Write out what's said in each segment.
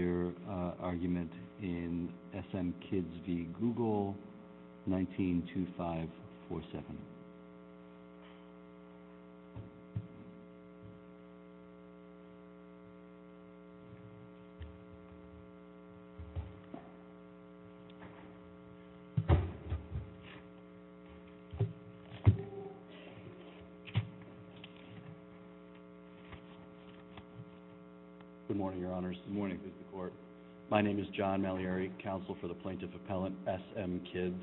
their argument in SM Kids v. Google, 19-2547. Good morning, Your Honors, good morning, Mr. Court. My name is John Maliari, Counsel for the Plaintiff Appellant, SM Kids.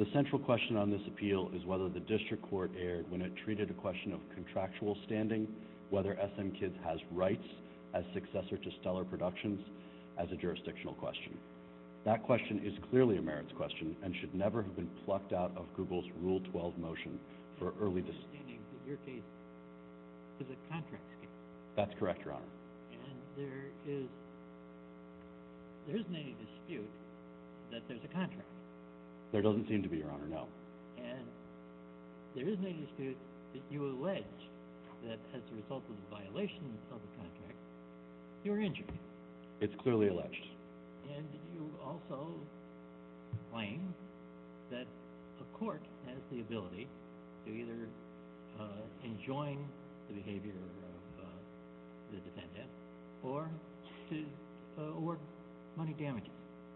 The central question on this appeal is whether the district court erred when it treated a question of contractual standing, whether SM Kids has rights as successor to Stuller Productions as a jurisdictional question. That question is clearly a merits question and should never have been plucked out of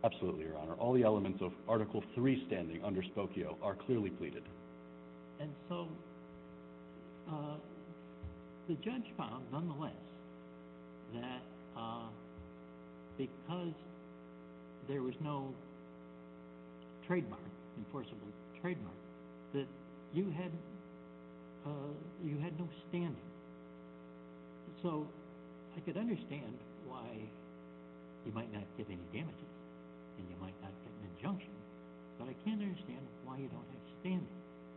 Absolutely, Your Honor. All the elements of Article 3 standing under Spokio are clearly pleaded. And so the judge found nonetheless that because there was no trademark, enforceable trademark, that you had no standing. So I could understand why you might not get any damages and you might not get an injunction, but I can't understand why you don't have standing.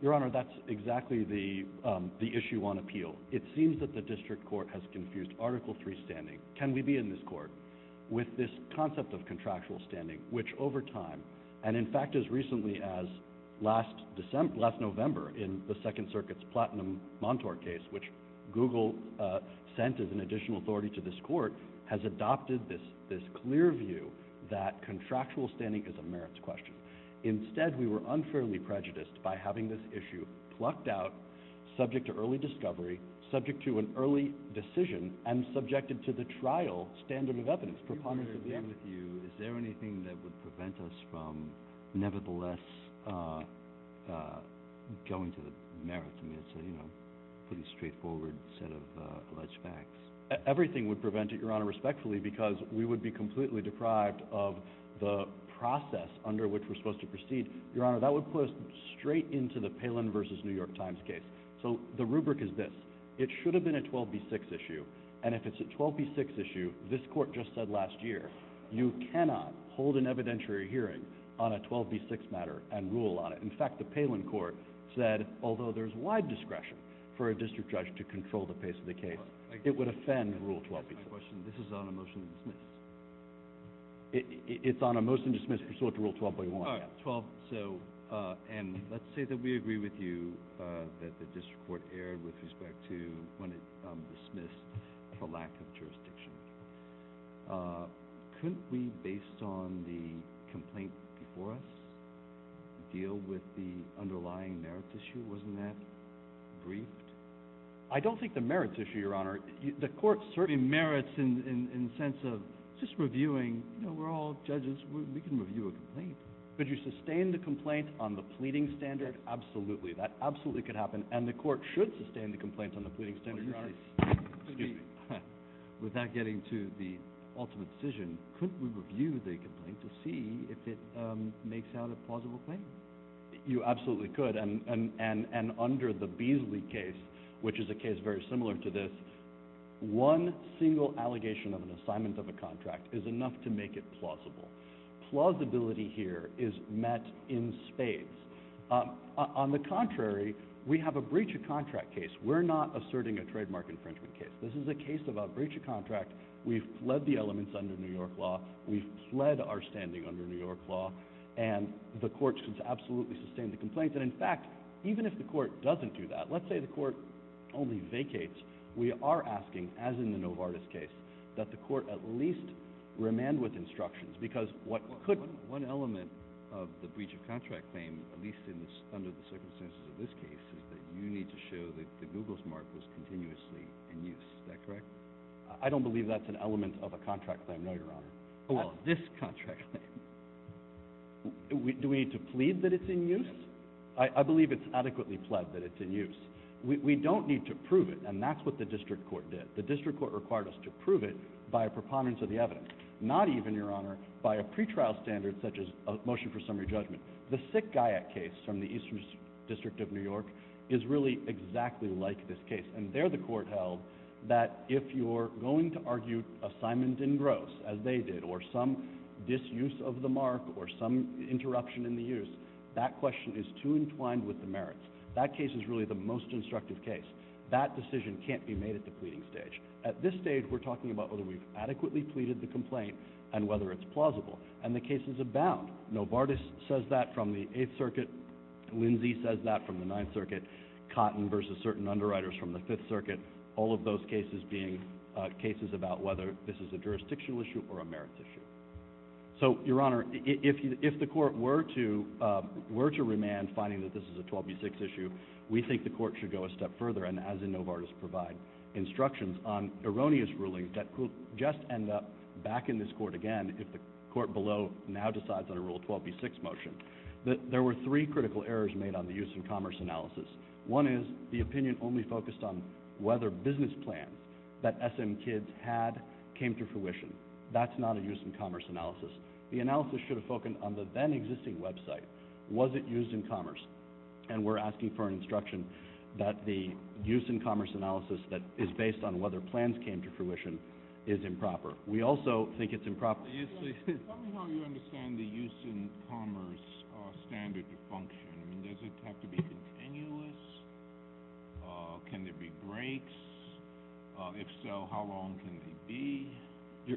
Your Honor, that's exactly the issue on appeal. It seems that the district court has confused Article 3 standing, can we be in this court, with this concept of contractual standing, which over time, and in fact as recently as last November in the Second Circuit's Platinum Montort case, which Google sent as an additional authority to this court, has adopted this clear view that contractual standing is a merits question. Instead, we were unfairly prejudiced by having this issue plucked out, subject to early discovery, subject to an early decision, and subjected to the trial standard of evidence, preponderance of the evidence. I'm just wondering if you, is there anything that would prevent us from nevertheless going to the merits? I mean, it's a, you know, pretty straightforward set of alleged facts. Everything would prevent it, Your Honor, respectfully, because we would be completely deprived of the process under which we're supposed to proceed. Your Honor, that would put us straight into the Palin v. New York Times case. So the rubric is this, it should have been a 12B6 issue, and if it's a 12B6 issue, this you cannot hold an evidentiary hearing on a 12B6 matter and rule on it. In fact, the Palin court said, although there's wide discretion for a district judge to control the pace of the case, it would offend Rule 12B6. That's my question. This is on a motion to dismiss. It's on a motion to dismiss pursuant to Rule 12.1. All right, 12, so, and let's say that we agree with you that the district court erred with respect to when it dismissed the lack of jurisdiction. Couldn't we, based on the complaint before us, deal with the underlying merits issue? Wasn't that briefed? I don't think the merits issue, Your Honor, the court certainly merits in the sense of just reviewing, you know, we're all judges, we can review a complaint. Could you sustain the complaint on the pleading standard? Absolutely. That absolutely could happen, and the court should sustain the complaint on the pleading standard. Excuse me. Without getting to the ultimate decision, could we review the complaint to see if it makes out a plausible claim? You absolutely could, and under the Beasley case, which is a case very similar to this, one single allegation of an assignment of a contract is enough to make it plausible. Plausibility here is met in spades. On the contrary, we have a breach of contract case. We're not asserting a trademark infringement case. This is a case of a breach of contract. We've fled the elements under New York law. We've fled our standing under New York law, and the court should absolutely sustain the complaint. And in fact, even if the court doesn't do that, let's say the court only vacates, we are asking, as in the Novartis case, that the court at least remand with instructions, because what could— One element of the breach of contract claim, at least under the circumstances of this case, is that you need to show that the Google Smart was continuously in use. Is that correct? I don't believe that's an element of a contract claim, no, Your Honor. How about this contract claim? Do we need to plead that it's in use? I believe it's adequately pled that it's in use. We don't need to prove it, and that's what the district court did. The district court required us to prove it by a preponderance of the evidence, not even, Your Honor, by a pretrial standard such as a motion for summary judgment. The Sick Guyot case from the Eastern District of New York is really exactly like this case, and there the court held that if you're going to argue assignment in gross, as they did, or some disuse of the mark or some interruption in the use, that question is too entwined with the merits. That case is really the most instructive case. That decision can't be made at the pleading stage. At this stage, we're talking about whether we've adequately pleaded the complaint and whether it's plausible, and the cases abound. Novartis says that from the Eighth Circuit. Lindsay says that from the Ninth Circuit. Cotton versus certain underwriters from the Fifth Circuit. All of those cases being cases about whether this is a jurisdictional issue or a merits issue. So, Your Honor, if the court were to remand finding that this is a 12B6 issue, we think the court should go a step further, and as in Novartis, provide instructions on erroneous rulings that could just end up back in this court again if the court below now decides on a Rule 12B6 motion. There were three critical errors made on the use and commerce analysis. One is the opinion only focused on whether business plans that SM Kids had came to fruition. That's not a use and commerce analysis. The analysis should have focused on the then-existing website. Was it used in commerce? And we're asking for an instruction that the use and commerce analysis that is based on whether plans came to fruition is improper. We also think it's improper. Tell me how you understand the use and commerce standard to function. Does it have to be continuous? Can there be breaks? If so, how long can they be?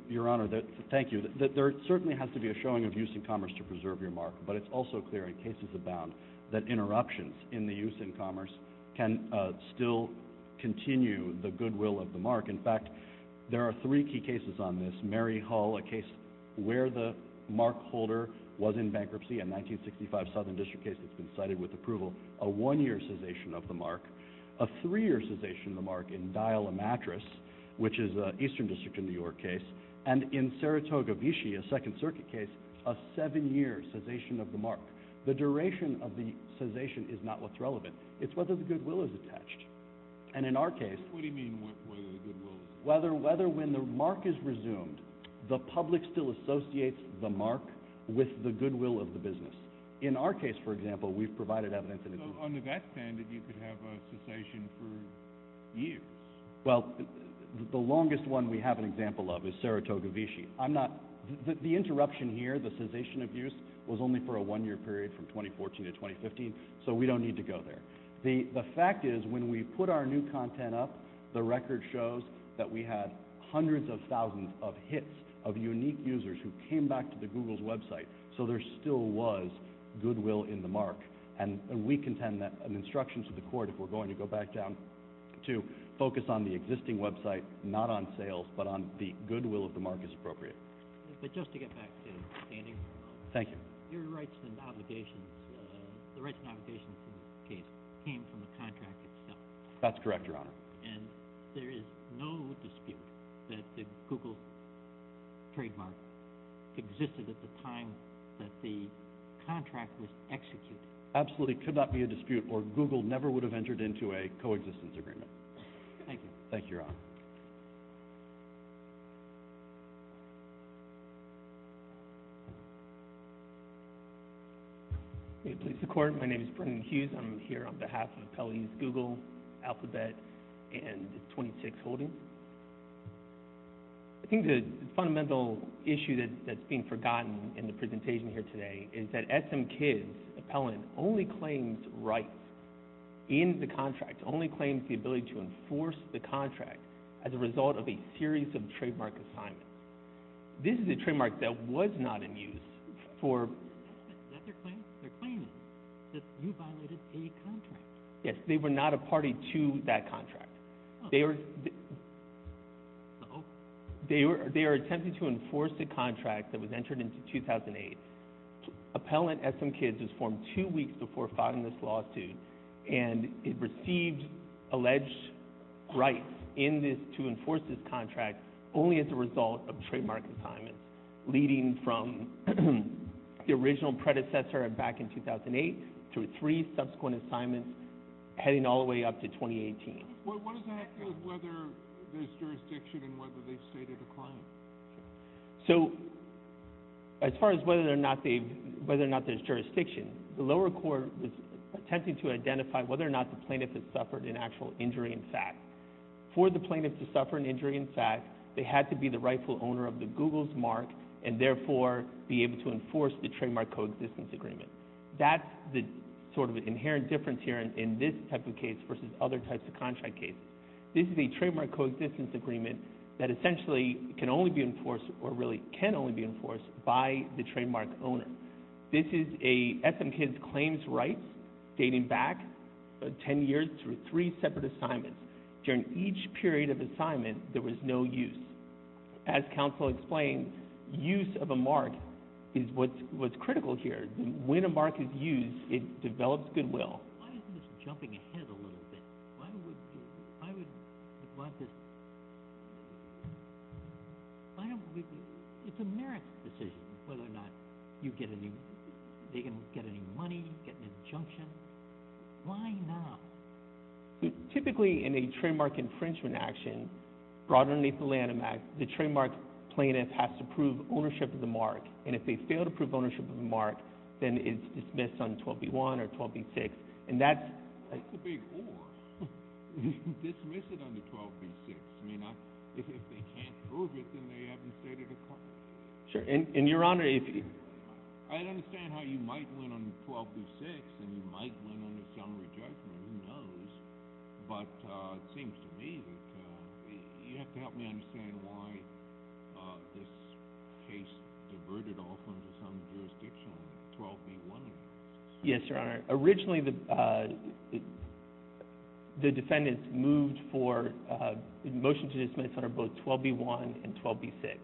Your Honor, thank you. There certainly has to be a showing of use and commerce to preserve your mark, but it's also clear in cases of bound that interruptions in the use and commerce can still continue the goodwill of the mark. In fact, there are three key cases on this. Mary Hall, a case where the mark holder was in bankruptcy, a 1965 Southern District case that's been cited with approval, a one-year cessation of the mark, a three-year cessation of the mark in Dial a Mattress, which is an Eastern District in New York case, and in Saratoga, Vichy, a Second Circuit case, a seven-year cessation of the mark. The duration of the cessation is not what's relevant. It's whether the goodwill is attached. And in our case... What do you mean, whether the goodwill is attached? Whether when the mark is resumed, the public still associates the mark with the goodwill of the business. In our case, for example, we've provided evidence... Under that standard, you could have a cessation for years. Well, the longest one we have an example of is Saratoga, Vichy. I'm not... The interruption here, the cessation of use, was only for a one-year period from 2014 to 2015, so we don't need to go there. The fact is, when we put our new content up, the record shows that we had hundreds of thousands of hits of unique users who came back to the Google's website, so there still was goodwill in the mark. And we contend that an instruction to the court, if we're going to go back down, to focus on the existing website, not on sales, but on the goodwill of the mark as appropriate. But just to get back to standing... Thank you. Your rights and obligations... The rights and obligations in this case came from the contract itself. That's correct, Your Honour. And there is no dispute that the Google trademark existed at the time that the contract was executed? Absolutely. It could not be a dispute, or Google never would have entered into a co-existence agreement. Thank you. Thank you, Your Honour. May it please the Court, my name is Brendan Hughes. I'm here on behalf of Appellees Google, Alphabet, and 26 Holdings. I think the fundamental issue that's being forgotten in the presentation here today is that SM Kids Appellant only claims rights in the contract, only claims the ability to enforce the contract as a result of a series of trademark assignments. This is a trademark that was not in use for... Is that their claim? They're claiming that you violated a contract. Yes, they were not a party to that contract. They were... They were attempting to enforce the contract that was entered into 2008. Appellant SM Kids was formed two weeks before filing this lawsuit, and it received alleged rights to enforce this contract only as a result of trademark assignments leading from the original predecessor back in 2008 through three subsequent assignments, heading all the way up to 2018. What does that have to do with whether there's jurisdiction and whether they've stated a claim? So, as far as whether or not there's jurisdiction, the lower court was attempting to identify whether or not the plaintiff had suffered an actual injury in fact. For the plaintiff to suffer an injury in fact, they had to be the rightful owner of the Google's mark and therefore be able to enforce the trademark coexistence agreement. That's the sort of inherent difference here in this type of case versus other types of contract cases. This is a trademark coexistence agreement that essentially can only be enforced, or really can only be enforced by the trademark owner. This is a SM Kids claims rights dating back 10 years through three separate assignments. During each period of assignment, there was no use. As counsel explained, use of a mark is what's critical here. When a mark is used, it develops goodwill. Why isn't this jumping ahead a little bit? Why would... Why would... Why is this... Why don't we... It's a merits decision whether or not you get any... They can get any money, get an injunction. Why not? Typically, in a trademark infringement action, brought underneath the Lanham Act, the trademark plaintiff has to prove ownership of the mark. And if they fail to prove ownership of the mark, then it's dismissed on 12b1 or 12b6. And that's... That's a big or. Dismiss it on the 12b6. I mean, if they can't prove it, then they haven't stated a claim. Sure. And, Your Honour, if you... I understand how you might win on 12b6 and you might win on an assembly judgment, who knows? But it seems to me that you have to help me understand why this case diverted off onto some jurisdiction on 12b1. Yes, Your Honour. Originally, the defendants moved for a motion to dismiss under both 12b1 and 12b6.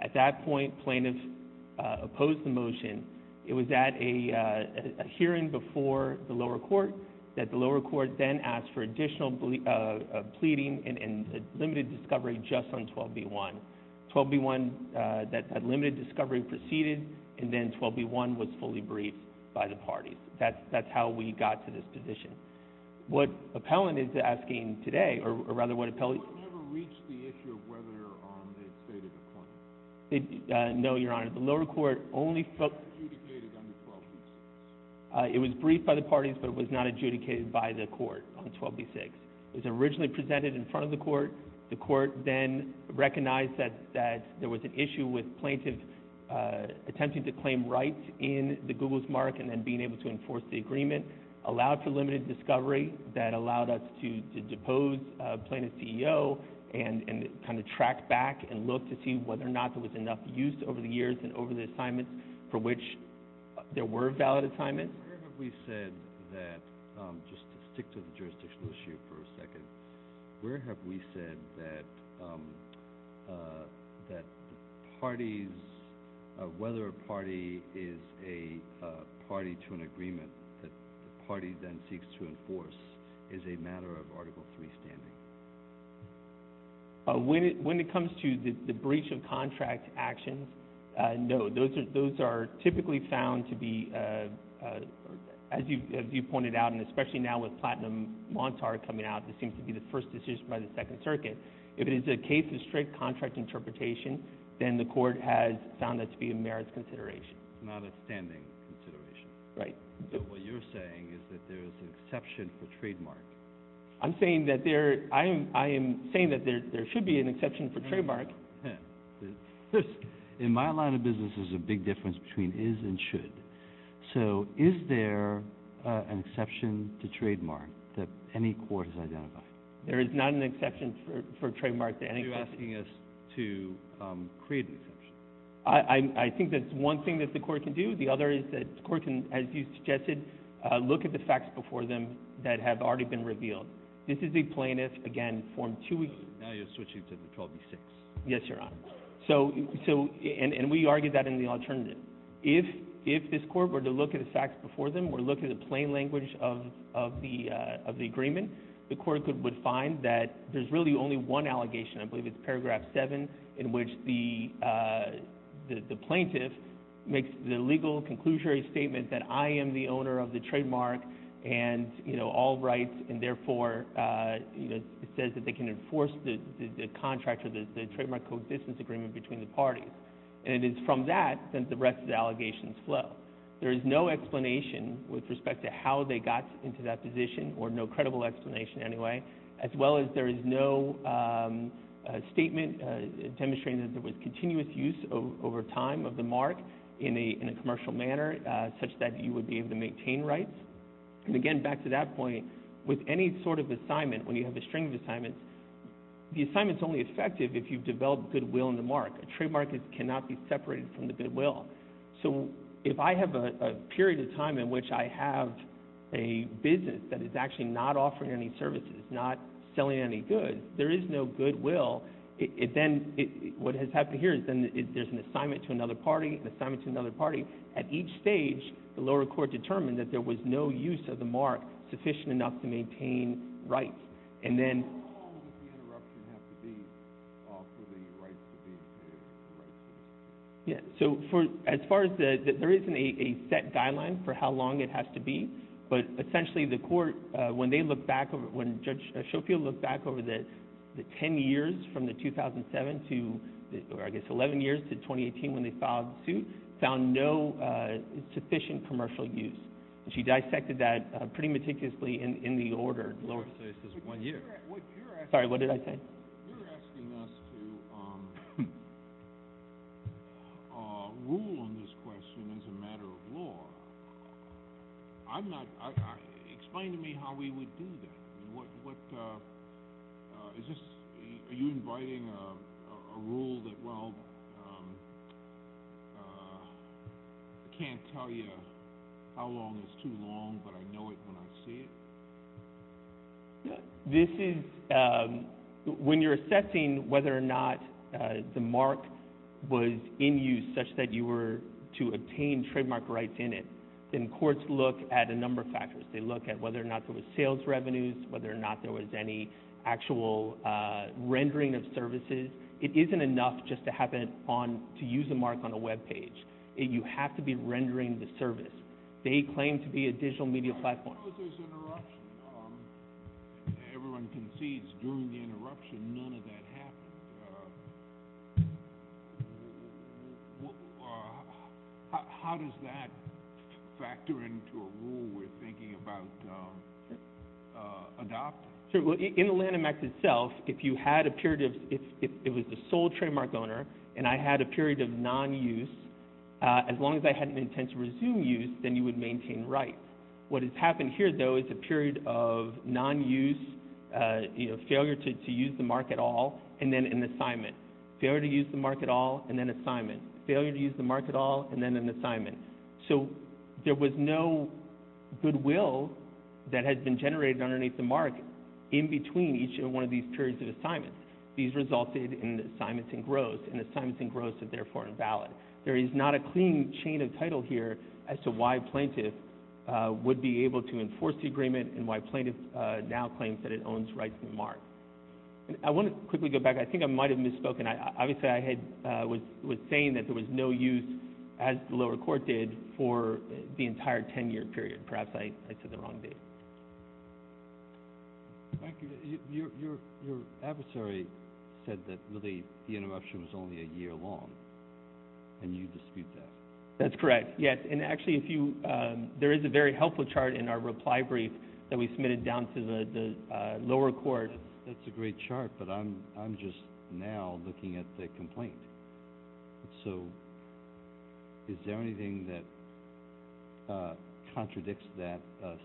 At that point, plaintiffs opposed the motion. It was at a hearing before the lower court that the lower court then asked for additional pleading and limited discovery just on 12b1. 12b1, that limited discovery proceeded, and then 12b1 was fully briefed by the parties. That's how we got to this position. What appellant is asking today, or rather, what appellant... The court never reached the issue of whether or not they had stated a claim. No, Your Honour. The lower court only felt... Adjudicated on the 12b6. It was briefed by the parties, but it was not adjudicated by the court on 12b6. It was originally presented in front of the court. The court then recognized that there was an issue with plaintiffs attempting to claim rights in the Google's mark and then being able to enforce the agreement, allowed for limited discovery that allowed us to depose plaintiff's CEO and kind of track back and look to see whether or not there was enough use over the years and over the assignments for which there were valid assignments. Where have we said that... Just to stick to the jurisdictional issue for a second, where have we said that parties... Whether a party is a party to an agreement that the party then seeks to enforce is a matter of Article III standing? When it comes to the breach of contract actions, no, those are typically found to be... As you pointed out, and especially now with Platinum Montar coming out, this seems to be the first decision by the Second Circuit. If it is a case of strict contract interpretation, then the court has found that to be a merits consideration. It's not a standing consideration. Right. So what you're saying is that there's an exception for trademark. I'm saying that there... I am saying that there should be an exception for trademark. In my line of business, there's a big difference between is and should. So is there an exception to trademark that any court has identified? There is not an exception for trademark. You're asking us to create an exception. I think that's one thing that the court can do. The other is that the court can, as you suggested, look at the facts before them that have already been revealed. This is the plaintiff, again, form 2E. Now you're switching to 12E6. Yes, Your Honor. So... And we argue that in the alternative. If this court were to look at the facts before them, were to look at the plain language of the agreement, the court would find that there's really only one allegation, I believe it's paragraph 7, in which the plaintiff makes the legal conclusory statement that I am the owner of the trademark and, you know, all rights, and therefore, you know, it says that they can enforce the contract or the trademark coexistence agreement between the parties. And it is from that that the rest of the allegations flow. There is no explanation with respect to how they got into that position, or no credible explanation anyway, as well as there is no statement demonstrating that there was continuous use over time of the mark in a commercial manner, such that you would be able to maintain rights. And again, back to that point, with any sort of assignment, when you have a string of assignments, the assignment's only effective if you've developed goodwill in the mark. A trademark cannot be separated from the goodwill. So if I have a period of time in which I have a business that is actually not offering any services, not selling any goods, there is no goodwill. Then what has happened here is then there's an assignment to another party, an assignment to another party. At each stage, the lower court determined that there was no use of the mark sufficient enough to maintain rights. And then... How long would the interruption have to be for the rights to be maintained? Yeah, so as far as the... There isn't a set guideline for how long it has to be, but essentially the court, when they look back, when Judge Schofield looked back over the 10 years from the 2007 to, I guess, 11 years, to 2018 when they filed the suit, found no sufficient commercial use. And she dissected that pretty meticulously in the order, lower cases, one year. Sorry, what did I say? You're asking us to rule on this question as a matter of law. I'm not... Explain to me how we would do that. What... Is this... Are you inviting a rule that, well... I can't tell you how long is too long, but I know it when I see it? This is... When you're assessing whether or not the mark was in use such that you were to obtain trademark rights in it, then courts look at a number of factors. They look at whether or not there was sales revenues, whether or not there was any actual rendering of services. It isn't enough just to have it on... To use a mark on a web page. You have to be rendering the service. They claim to be a digital media platform. I suppose there's interruption. Everyone concedes during the interruption none of that happened. How does that factor into a rule we're thinking about adopting? In the Lanham Act itself, if you had a period of... If it was the sole trademark owner and I had a period of non-use, as long as I had an intent to resume use, then you would maintain rights. What has happened here, though, is a period of non-use, failure to use the mark at all, and then an assignment. Failure to use the mark at all, and then assignment. Failure to use the mark at all, and then an assignment. So there was no goodwill that had been generated underneath the mark in between each one of these periods of assignments. These resulted in assignments engrossed, and assignments engrossed are therefore invalid. There is not a clean chain of title here as to why plaintiffs would be able to enforce the agreement and why plaintiffs now claim that it owns rights to the mark. I want to quickly go back. I think I might have misspoken. Obviously, I was saying that there was no use, as the lower court did, for the entire 10-year period. Perhaps I took the wrong date. Thank you. Your adversary said that, really, the interruption was only a year long, and you dispute that. That's correct, yes. Actually, there is a very helpful chart in our reply brief that we submitted down to the lower court. That's a great chart, but I'm just now looking at the complaint. So is there anything that contradicts that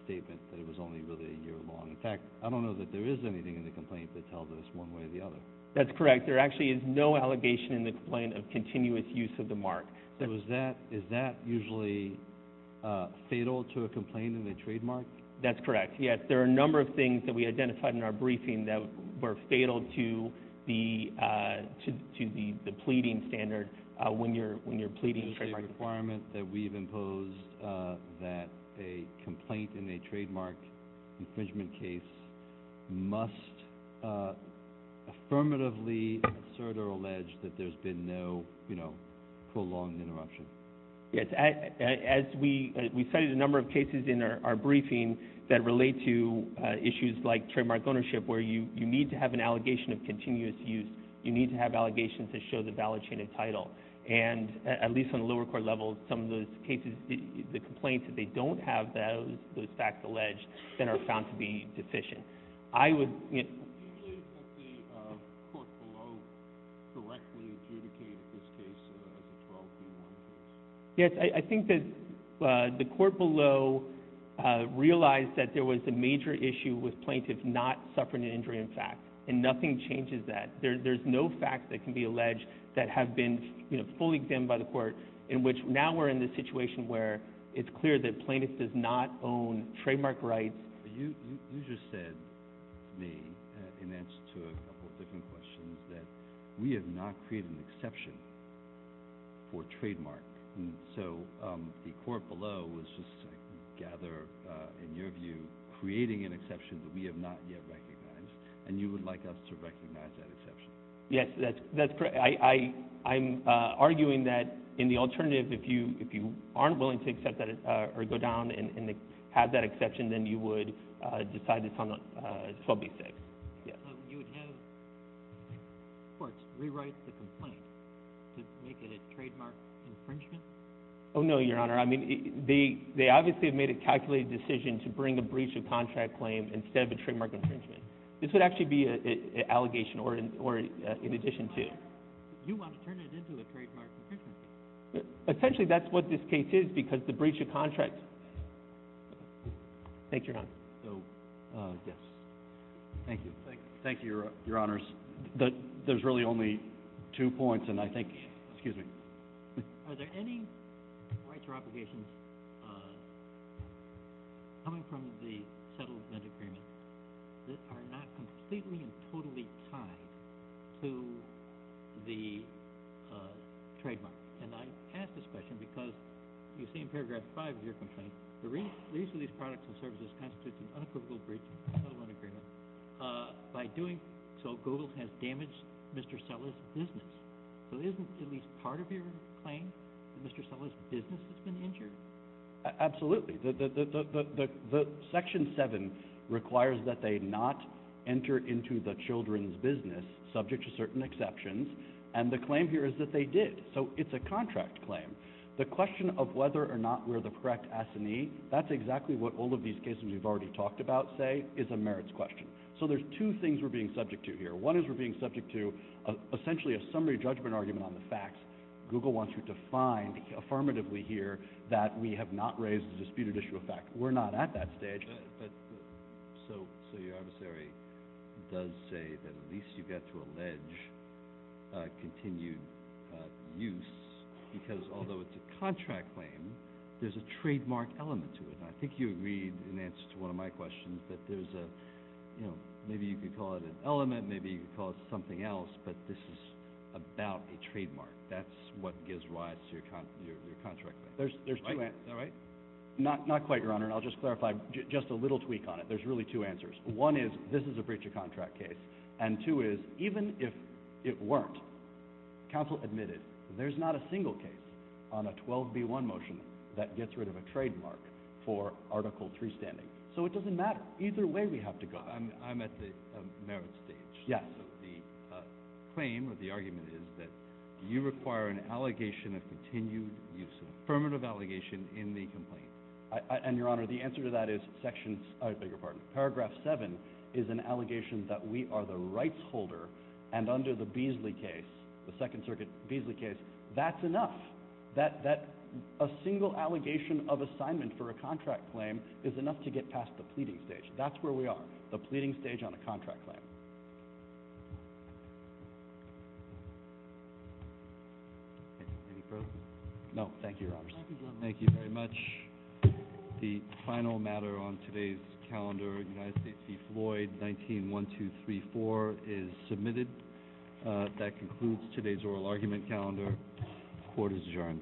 statement, that it was only really a year long? In fact, I don't know that there is anything in the complaint that tells us one way or the other. That's correct. There actually is no allegation in the complaint of continuous use of the mark. Is that usually fatal to a complaint in the trademark? That's correct, yes. There are a number of things that we identified in our briefing that were fatal to the pleading standard when you're pleading a trademark infringement. Is there a requirement that we've imposed that a complaint in a trademark infringement case must affirmatively assert or allege that there's been no, you know, prolonged interruption? Yes. We cited a number of cases in our briefing that relate to issues like trademark ownership, where you need to have an allegation of continuous use. You need to have allegations that show the valid chain of title. And at least on the lower court level, some of those cases, the complaints that they don't have those facts alleged then are found to be deficient. I would... Did the court below directly adjudicate this case as a 12B1 case? Yes, I think that the court below realized that there was a major issue with plaintiffs not suffering an injury in fact, and nothing changes that. There's no facts that can be alleged that have been fully examined by the court in which now we're in this situation where it's clear that plaintiffs do not own trademark rights. You just said to me, in answer to a couple of different questions, that we have not created an exception for trademark. So the court below was just, I gather, in your view, creating an exception that we have not yet recognized, and you would like us to recognize that exception. Yes, that's correct. I'm arguing that in the alternative, if you aren't willing to accept that or go down and have that exception, then you would decide it's on the 12B6. You would have courts rewrite the complaint to make it a trademark infringement? Oh, no, Your Honor. They obviously have made a calculated decision to bring a breach of contract claim instead of a trademark infringement. This would actually be an allegation or in addition to. You want to turn it into a trademark infringement. Essentially, that's what this case is because the breach of contract... Thank you, Your Honor. Thank you, Your Honors. There's really only two points, and I think... Excuse me. Are there any rights or obligations coming from the settlement agreement that are not completely and totally tied to the trademark? And I ask this question because you see in paragraph 5 of your complaint, the use of these products and services constitutes an unapprovable breach of the settlement agreement. By doing so, Google has damaged Mr. Sella's business. So isn't at least part of your claim that Mr. Sella's business has been injured? Absolutely. Section 7 requires that they not enter into the children's business, subject to certain exceptions, and the claim here is that they did. So it's a contract claim. The question of whether or not we're the correct S&E, that's exactly what all of these cases we've already talked about say is a merits question. So there's two things we're being subject to here. One is we're being subject to essentially a summary judgment argument on the facts. Google wants you to find, affirmatively here, that we have not raised a disputed issue of fact. We're not at that stage. So your adversary does say that at least you get to allege continued use because although it's a contract claim, there's a trademark element to it. I think you agreed in answer to one of my questions that there's a, you know, maybe you could call it an element, maybe you could call it something else, but this is about a trademark. That's what gives rise to your contract claim. Is that right? Not quite, Your Honor. I'll just clarify just a little tweak on it. There's really two answers. One is this is a breach of contract case. And two is even if it weren't, counsel admitted there's not a single case on a 12b1 motion that gets rid of a trademark for Article 3 standing. So it doesn't matter. Either way we have to go. I'm at the merits stage. Yes. So the claim or the argument is that you require an allegation of continued use, affirmative allegation in the complaint. And, Your Honor, the answer to that is paragraph 7 is an allegation that we are the rights holder and under the Beasley case, the Second Circuit Beasley case, that's enough. That a single allegation of assignment for a contract claim is enough to get past the pleading stage. That's where we are, the pleading stage on a contract claim. Any further? No. Thank you, Your Honors. Thank you very much. The final matter on today's calendar, United States v. Floyd, 19-1234, is submitted. That concludes today's oral argument calendar. Court is adjourned. Thank you.